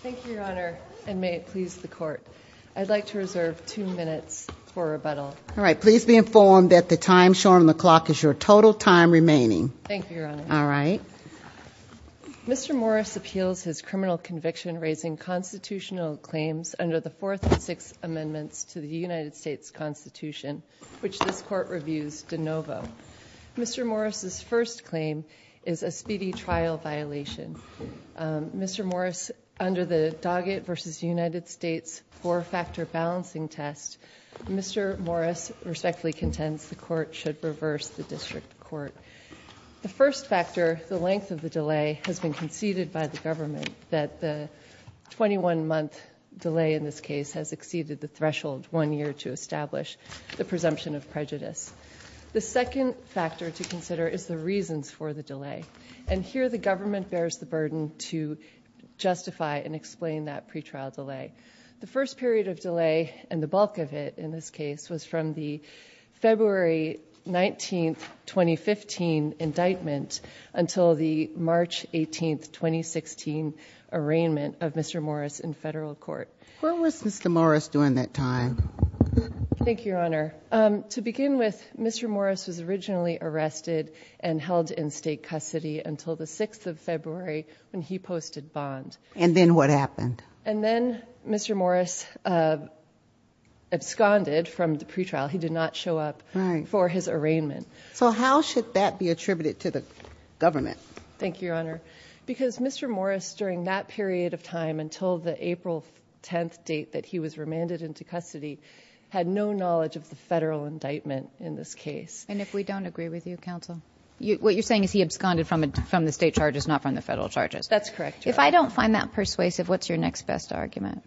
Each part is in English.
Thank you your honor and may it please the court. I'd like to reserve two minutes for rebuttal. All right please be informed that the time shown on the clock is your total time remaining. Thank you your honor. All right. Mr. Morris appeals his criminal conviction raising constitutional claims under the fourth and sixth amendments to the United States Constitution which this court reviews de novo. Mr. Morris's first claim is a speedy trial violation. Mr. Morris under the Doggett v. United States four-factor balancing test, Mr. Morris respectfully contends the court should reverse the district court. The first factor, the length of the delay, has been conceded by the government that the 21 month delay in this case has exceeded the threshold one year to establish the presumption of prejudice. The second factor to consider is the reasons for the delay and here the government bears the burden to justify and explain that pretrial delay. The first period of delay and the bulk of it in this case was from the February 19th 2015 indictment until the March 18th 2016 arraignment of Mr. Morris in federal court. When was Mr. Morris during that time? Thank you your custody until the 6th of February when he posted bond. And then what happened? And then Mr. Morris absconded from the pretrial. He did not show up for his arraignment. So how should that be attributed to the government? Thank you your honor. Because Mr. Morris during that period of time until the April 10th date that he was remanded into custody had no knowledge of the federal indictment in this case. And if we don't agree with you counsel? What you're saying is he absconded from the state charges not from the federal charges? That's correct. If I don't find that persuasive what's your next best argument?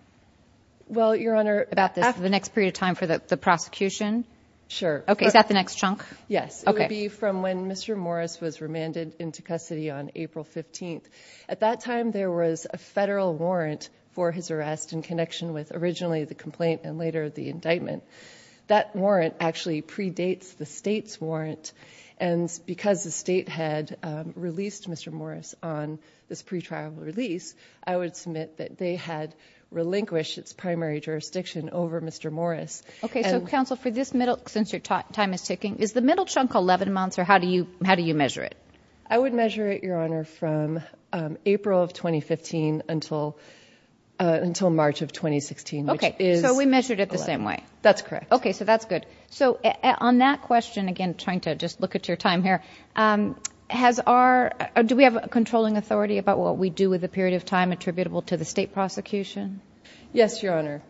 Well your honor. About the next period of time for the prosecution? Sure. Okay is that the next chunk? Yes. Okay. It would be from when Mr. Morris was remanded into custody on April 15th. At that time there was a federal warrant for his arrest in connection with originally the complaint and later the indictment. That warrant actually predates the state's warrant and because the state had released Mr. Morris on this pretrial release I would submit that they had relinquished its primary jurisdiction over Mr. Morris. Okay so counsel for this middle since your time is ticking is the middle chunk 11 months or how do you how do you measure it? I would measure it your honor from April of 2015 until until March of 2016. Okay so we measured it the same way? That's correct. Okay so that's good. So on that question again trying to just look at your time here has our do we have a controlling authority about what we do with the period of time attributable to the state prosecution? Yes your honor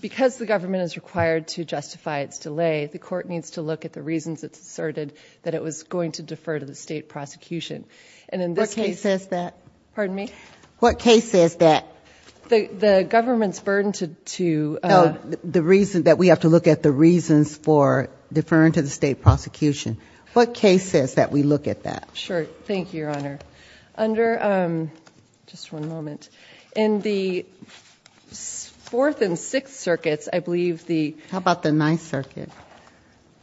because the government is required to justify its delay the court needs to look at the reasons it's asserted that it was going to defer to the state prosecution and in this case says that pardon me what case is that the the government's burden to to the reason that we have to look at the reasons for deferring to the state prosecution what case says that we look at that? Sure thank you your honor under just one moment in the fourth and sixth circuits I believe the how about the ninth circuit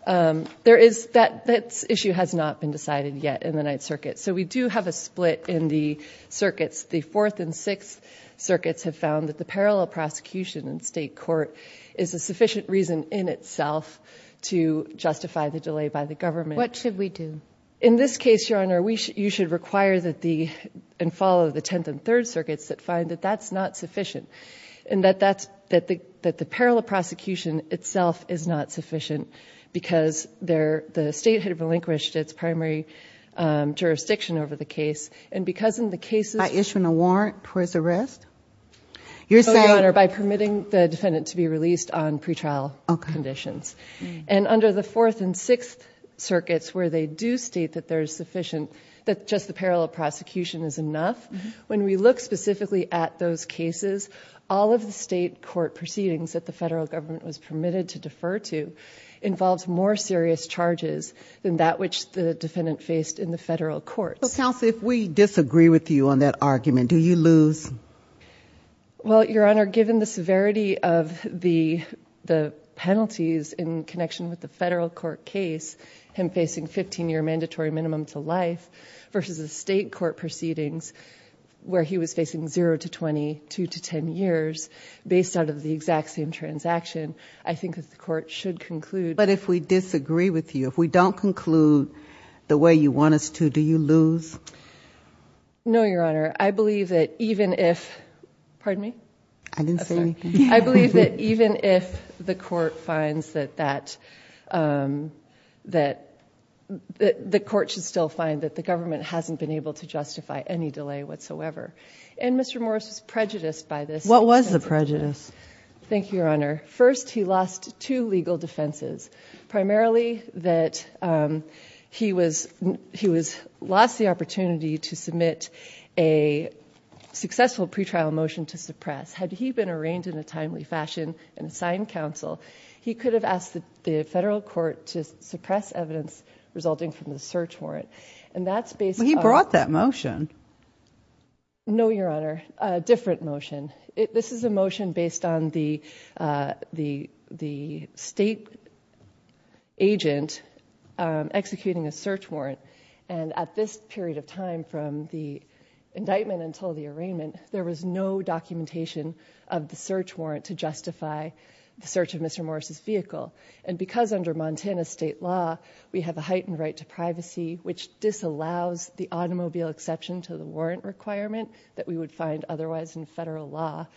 there is that that issue has not been decided yet in the ninth circuit so we do have a split in the circuits the fourth and sixth circuits have found that the parallel prosecution in state court is a sufficient reason in itself to justify the delay by the government. What should we do? In this case your honor we should you should require that the and follow the tenth and third circuits that find that that's not sufficient and that that's that the that the parallel prosecution itself is not sufficient because there the state had relinquished its primary jurisdiction over the case and because in the cases. By issuing a warrant towards arrest? Your Honor by permitting the defendant to be released on pretrial conditions and under the fourth and sixth circuits where they do state that there is sufficient that just the parallel prosecution is enough when we look specifically at those cases all of the state court proceedings that the federal government was permitted to defer to involves more serious charges than that which the defendant faced in the federal courts. Counsel if we disagree with you on that argument do you lose? Well your honor given the severity of the the penalties in connection with the federal court case him facing 15-year mandatory minimum to life versus the state court proceedings where he was facing 0 to 20, 2 to 10 years based out of the exact same transaction I think that the court should conclude. But if we disagree with you if we don't conclude the way you want us to do you lose? No your honor I believe that even if pardon me? I didn't say anything. I believe that even if the court finds that that that the court should still find that the government hasn't been able to justify any delay whatsoever and Mr. Morris was prejudiced by this. What was the prejudice? Thank he was lost the opportunity to submit a successful pretrial motion to suppress. Had he been arraigned in a timely fashion and assigned counsel he could have asked the federal court to suppress evidence resulting from the search warrant and that's based on. He brought that motion. No your honor a different motion. This is a motion based on the the the state agent executing a search warrant and at this period of time from the indictment until the arraignment there was no documentation of the search warrant to justify the search of Mr. Morris's vehicle and because under Montana state law we have a heightened right to privacy which disallows the automobile exception to the warrant requirement that we would find otherwise in federal law.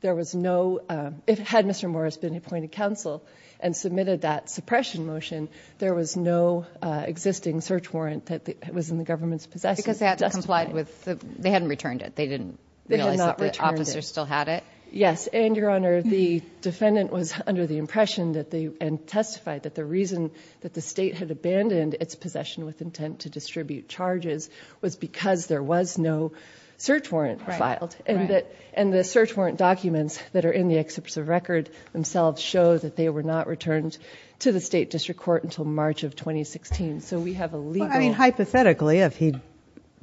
There was no if had Mr. Morris been appointed counsel and submitted that suppression motion there was no existing search warrant that was in the government's possess because they had to complied with the they hadn't returned it they didn't they did not return officers still had it. Yes and your honor the defendant was under the impression that they and testified that the reason that the state had abandoned its possession with intent to distribute charges was because there was no search warrant filed and that and the search warrant documents that are in the excerpts of record themselves show that they were not returned to the state district court until March of 2016 so we have a legal... I mean hypothetically if he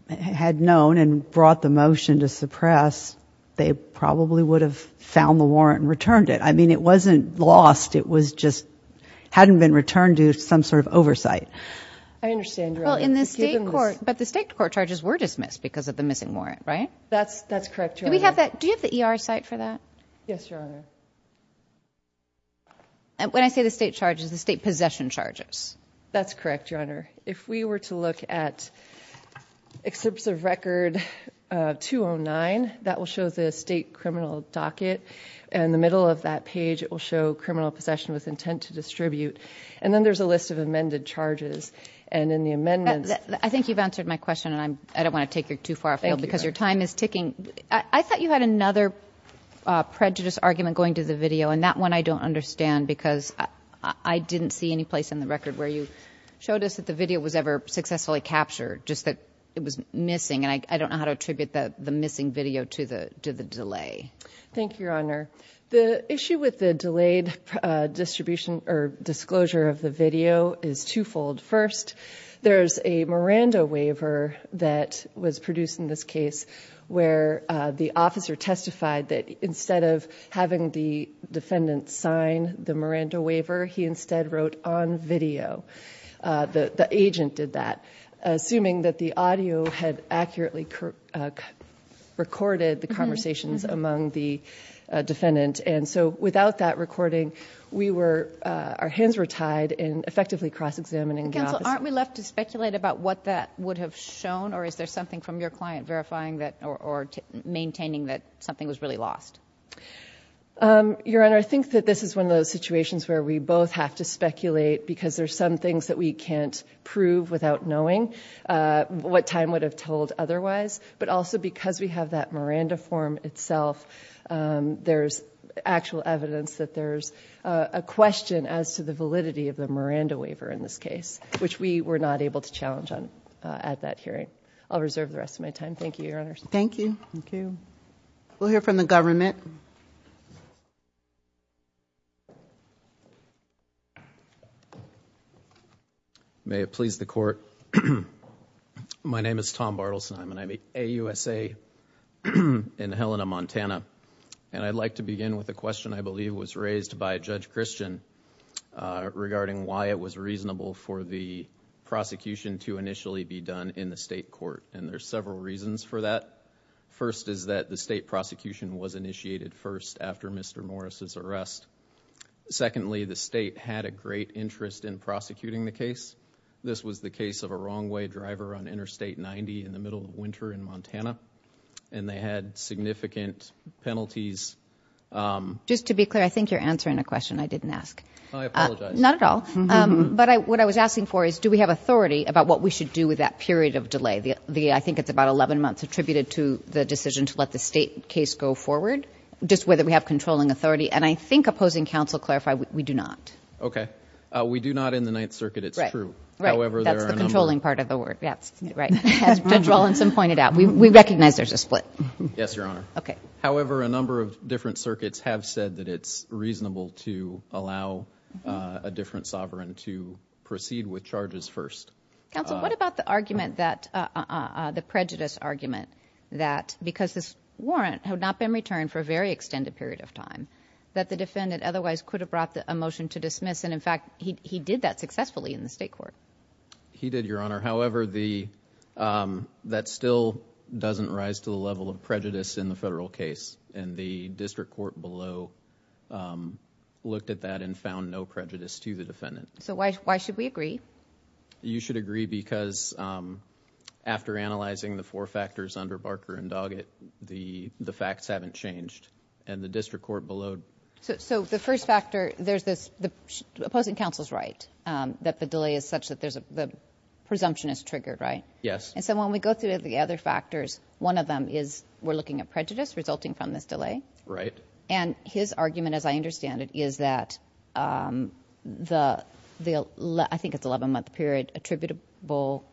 had known and brought the motion to suppress they probably would have found the warrant and returned it I mean it wasn't lost it was just hadn't been returned to some sort of oversight. I understand your honor. Well in the state court but the state court charges were dismissed because of the missing warrant right? That's that's correct. Do we have that do you have the ER site for that? Yes your honor. When I say the state charges the state possession charges. That's correct your honor. If we were to look at excerpts of record 209 that will show the state criminal docket and the middle of that page it will show criminal possession with intent to distribute and then there's a list of amended charges and in the amendments... I think you've answered my question and I'm I don't want to take you too far because your time is ticking. I thought you had another prejudice argument going to the video and that one I don't understand because I didn't see any place in the record where you showed us that the video was ever successfully captured just that it was missing and I don't know how to attribute that the missing video to the to the delay. Thank you your honor. The issue with the delayed distribution or disclosure of the video is twofold. First there's a Miranda waiver that was produced in this case where the officer testified that instead of having the defendant sign the Miranda waiver he instead wrote on video. The agent did that assuming that the audio had accurately recorded the conversations among the defendant and so without that recording we were our hands were tied in effectively cross-examining. Counsel aren't we left to speculate about what that would have shown or is there something from your client verifying that or maintaining that something was really lost? Your honor I think that this is one of those situations where we both have to speculate because there's some things that we can't prove without knowing what time would have told otherwise but also because we have that Miranda form itself there's actual evidence that there's a question as to the validity of the Miranda waiver in this case which we were not able to challenge on at that hearing. I'll Thank you. We'll hear from the government. May it please the court. My name is Tom Bartelsheim and I'm a AUSA in Helena, Montana and I'd like to begin with a question I believe was raised by Judge Christian regarding why it was reasonable for the prosecution to First is that the state prosecution was initiated first after Mr. Morris's arrest. Secondly the state had a great interest in prosecuting the case. This was the case of a wrong-way driver on Interstate 90 in the middle of winter in Montana and they had significant penalties. Just to be clear I think you're answering a question I didn't ask. I apologize. Not at all but I what I was asking for is do we have authority about what we should do with that period of the decision to let the state case go forward just whether we have controlling authority and I think opposing counsel clarified we do not. Okay we do not in the Ninth Circuit it's true. Right that's the controlling part of the word that's right. Judge Rawlinson pointed out we recognize there's a split. Yes Your Honor. Okay. However a number of different circuits have said that it's reasonable to allow a different sovereign to proceed with charges first. Counsel what about the argument that the prejudice argument that because this warrant had not been returned for a very extended period of time that the defendant otherwise could have brought the a motion to dismiss and in fact he did that successfully in the state court. He did Your Honor however the that still doesn't rise to the level of prejudice in the federal case and the district court below looked at that and found no prejudice to the defendant. So why should we agree? You should agree because after analyzing the four factors under Barker and Doggett the the facts haven't changed and the district court below. So the first factor there's this the opposing counsel's right that the delay is such that there's a presumption is triggered right? Yes. And so when we go through the other factors one of them is we're looking at prejudice resulting from this delay. Right. And his argument as I understand it is that the the I think it's 11 month period attributable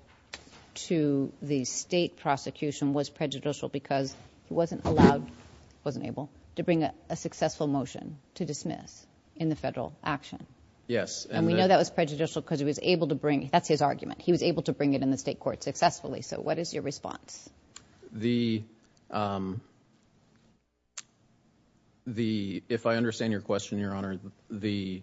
to the state prosecution was prejudicial because he wasn't allowed wasn't able to bring a successful motion to dismiss in the federal action. Yes. And we know that was prejudicial because he was able to bring that's his argument he was able to bring it in the state court successfully so what is your response? The the if I understand your question your honor the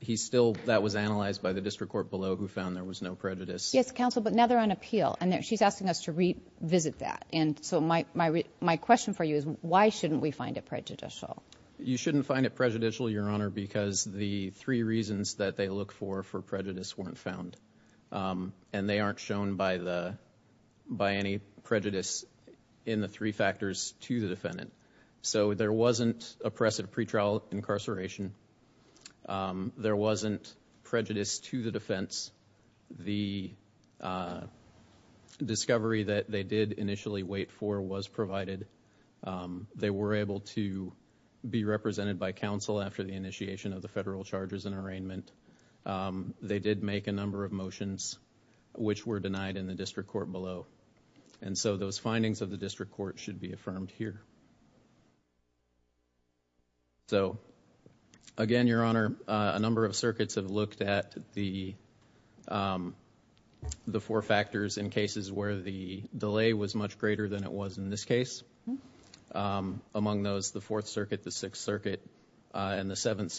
he's still that was analyzed by the district court below who found there was no prejudice. Yes counsel but now they're on appeal and there she's asking us to revisit that and so my my question for you is why shouldn't we find it prejudicial? You shouldn't find it prejudicial your honor because the three reasons that they look for for prejudice weren't found and they aren't shown by by any prejudice in the three factors to the defendant. So there wasn't oppressive pretrial incarceration. There wasn't prejudice to the defense. The discovery that they did initially wait for was provided. They were able to be represented by counsel after the initiation of the federal charges and district court below and so those findings of the district court should be affirmed here. So again your honor a number of circuits have looked at the the four factors in cases where the delay was much greater than it was in this case. Among those the Fourth Circuit, the Sixth Circuit, and the Seventh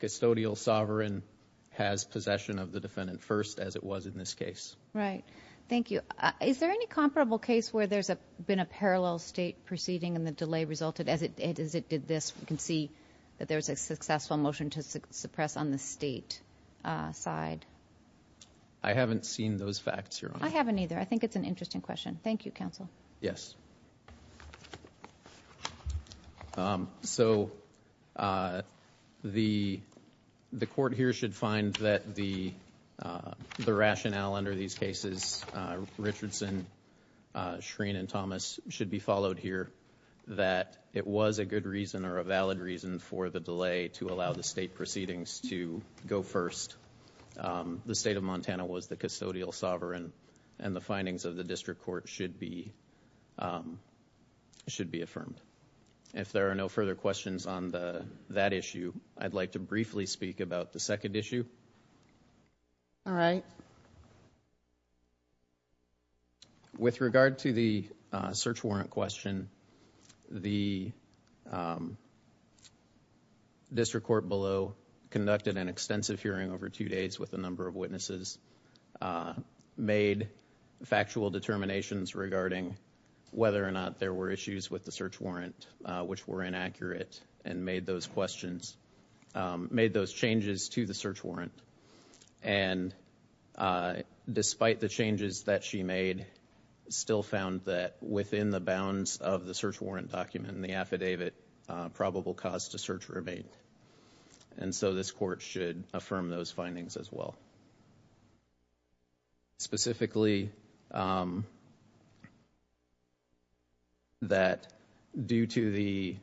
Custodial Sovereign has possession of the defendant first as it was in this case. Right. Thank you. Is there any comparable case where there's a been a parallel state proceeding and the delay resulted as it as it did this we can see that there's a successful motion to suppress on the state side? I haven't seen those facts your honor. I haven't either. I think it's an interesting question. Thank You counsel. Yes so the the court here should find that the the rationale under these cases Richardson, Schreen, and Thomas should be followed here that it was a good reason or a valid reason for the delay to allow the state proceedings to go first. The state of Montana was the custodial sovereign and the findings of the district court should be should be affirmed. If there are no further questions on that issue I'd like to briefly speak about the second issue. All right. With regard to the search warrant question the district court below conducted an extensive hearing over two days with a number of made factual determinations regarding whether or not there were issues with the search warrant which were inaccurate and made those questions made those changes to the search warrant and despite the changes that she made still found that within the bounds of the search warrant document in the affidavit probable cause to search remain and so this court should affirm those findings as well. Specifically that due to the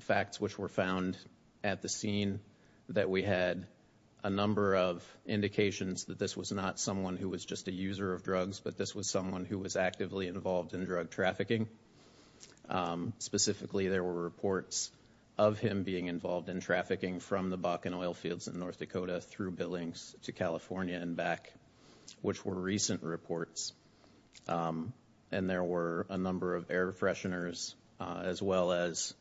facts which were found at the scene that we had a number of indications that this was not someone who was just a user of drugs but this was someone who was actively involved in drug trafficking specifically there were reports of him being involved in trafficking from the Billings to California and back which were recent reports and there were a number of air fresheners as well as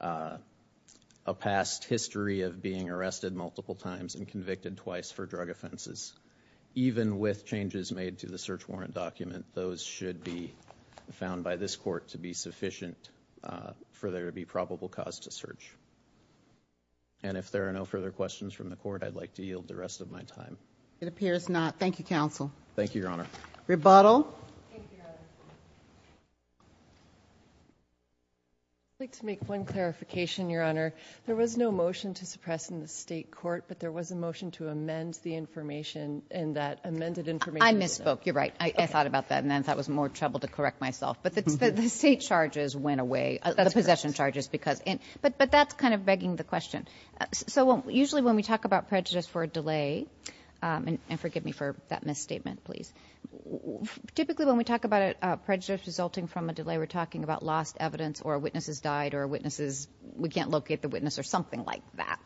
a past history of being arrested multiple times and convicted twice for drug offenses. Even with changes made to the search warrant document those should be found by this court to be sufficient for there to be probable cause to search and if there are no further questions from the court I'd like to yield the rest of my time. It appears not. Thank you counsel. Thank you your honor. Rebuttal. I'd like to make one clarification your honor there was no motion to suppress in the state court but there was a motion to amend the information and that amended information. I misspoke you're right I thought about that and then that was more trouble to correct myself but the state charges went away the possession charges because in but but that's kind of begging the question so well usually when we talk about prejudice for a delay and forgive me for that misstatement please typically when we talk about it prejudice resulting from a delay we're talking about lost evidence or witnesses died or witnesses we can't locate the witness or something like that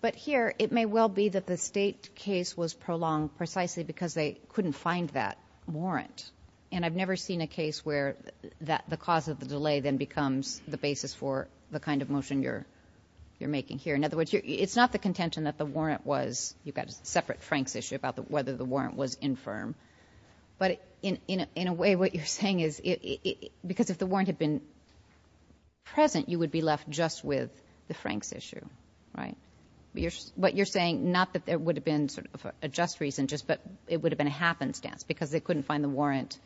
but here it may well be that the state case was prolonged precisely because they couldn't find that warrant and I've never seen a case where that the cause of the delay then becomes the basis for the kind of motion you're you're making here in other words it's not the contention that the warrant was you've got a separate Frank's issue about the whether the warrant was infirm but in in a way what you're saying is it because if the warrant had been present you would be left just with the Frank's issue right you're but you're saying not that there would have been sort of a just reason just but it would have been a happenstance because they couldn't find the warrant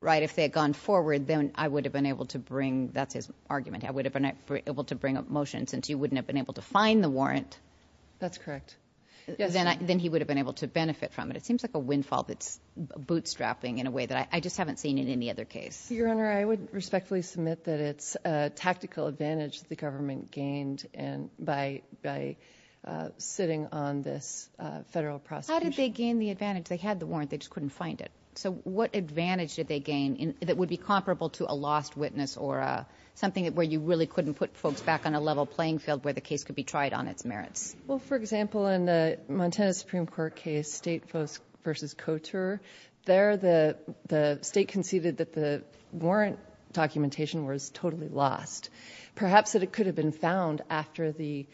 right if they had gone forward then I would have been able to bring that's his argument I would have been able to bring a motion since you wouldn't have been able to find the warrant that's correct yes then I then he would have been able to benefit from it it seems like a windfall that's bootstrapping in a way that I just haven't seen in any other case your honor I would respectfully submit that it's a tactical advantage the government gained and by by sitting on this federal process how did they gain the advantage they had the warrant they just couldn't find it so what advantage did they gain in that would be comparable to a lost witness or something that where you really couldn't put folks back on a level playing field where the case could be tried on its merits well for example in the Montana Supreme Court case state folks versus couture there the the state conceded that the warrant documentation was totally lost perhaps that it could have been found after the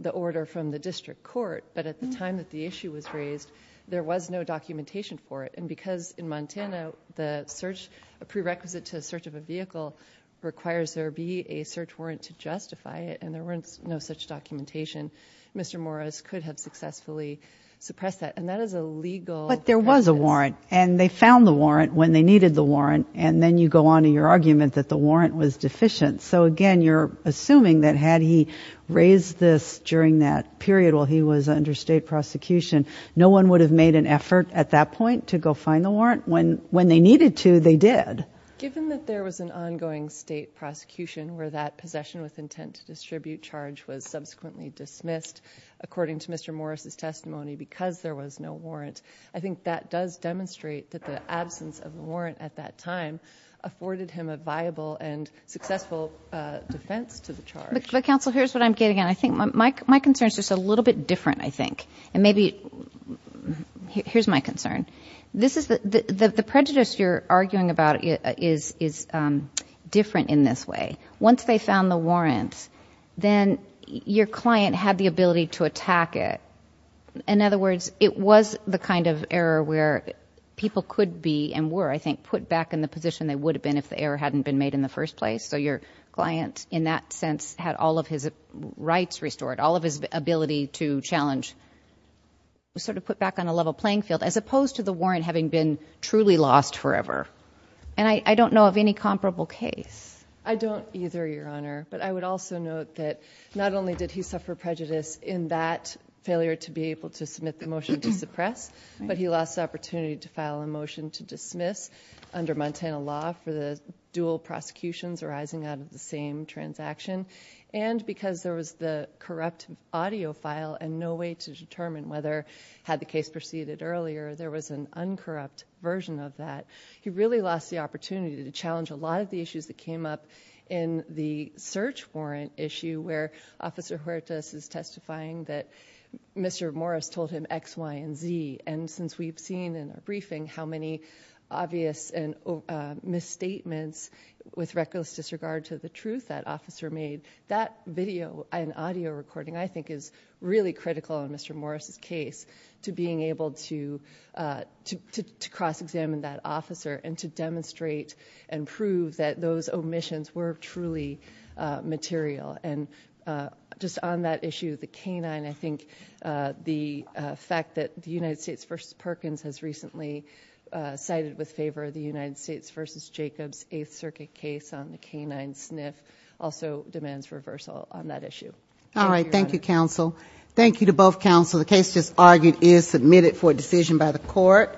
the order from the district court but at the time that the issue was raised there was no documentation for it and because in Montana the search a prerequisite to a search of a vehicle requires there be a search warrant to justify it and there weren't no such documentation mr. Morris could have successfully suppress that and that is a legal but there was a warrant and they found the warrant when they needed the warrant and then you go on to your argument that the warrant was deficient so again you're assuming that had he raised this during that period while he was under state prosecution no one would have made an effort at that point to go find the warrant when when they needed to they did given that there was an ongoing state prosecution where that possession with intent to distribute charge was subsequently dismissed according to mr. Morris's testimony because there was no warrant I think that does demonstrate that the absence of warrant at that time afforded him a viable and successful defense to the charge but counsel here's what I'm getting and I think my concern is just a little bit different I think and maybe here's my concern this is the the prejudice you're arguing about it is is different in this way once they found the warrants then your client had the ability to attack it in other words it was the kind of error where people could be and were I think put back in the position they would have been if the error hadn't been made in the first place so your client in that sense had all of his rights restored all of his ability to challenge was sort of put back on a level playing field as opposed to the warrant having been truly lost forever and I don't know of any comparable case I don't either your honor but I would also note that not only did he suffer prejudice in that failure to be able to submit the motion to suppress but he lost opportunity to file a motion to dismiss under Montana law for the dual prosecutions arising out of the same transaction and because there was the corrupt audiophile and no way to determine whether had the case proceeded earlier there was an uncorrupt version of that he really lost the opportunity to challenge a lot of the issues that came up in the search warrant issue where officer Huertas is testifying that mr. Morris told him X Y & Z and since we've seen in a briefing how many obvious and misstatements with reckless disregard to the truth that officer made that video and audio recording I think is really critical in mr. Morris's case to being able to to cross-examine that officer and to demonstrate and prove that those omissions were truly material and just on that issue the canine I think the fact that the United States versus Perkins has recently cited with favor the United States versus Jacobs 8th Circuit case on the canine sniff also demands reversal on that issue all right thank you counsel thank you to both counsel the case just argued is submitted for a decision by the court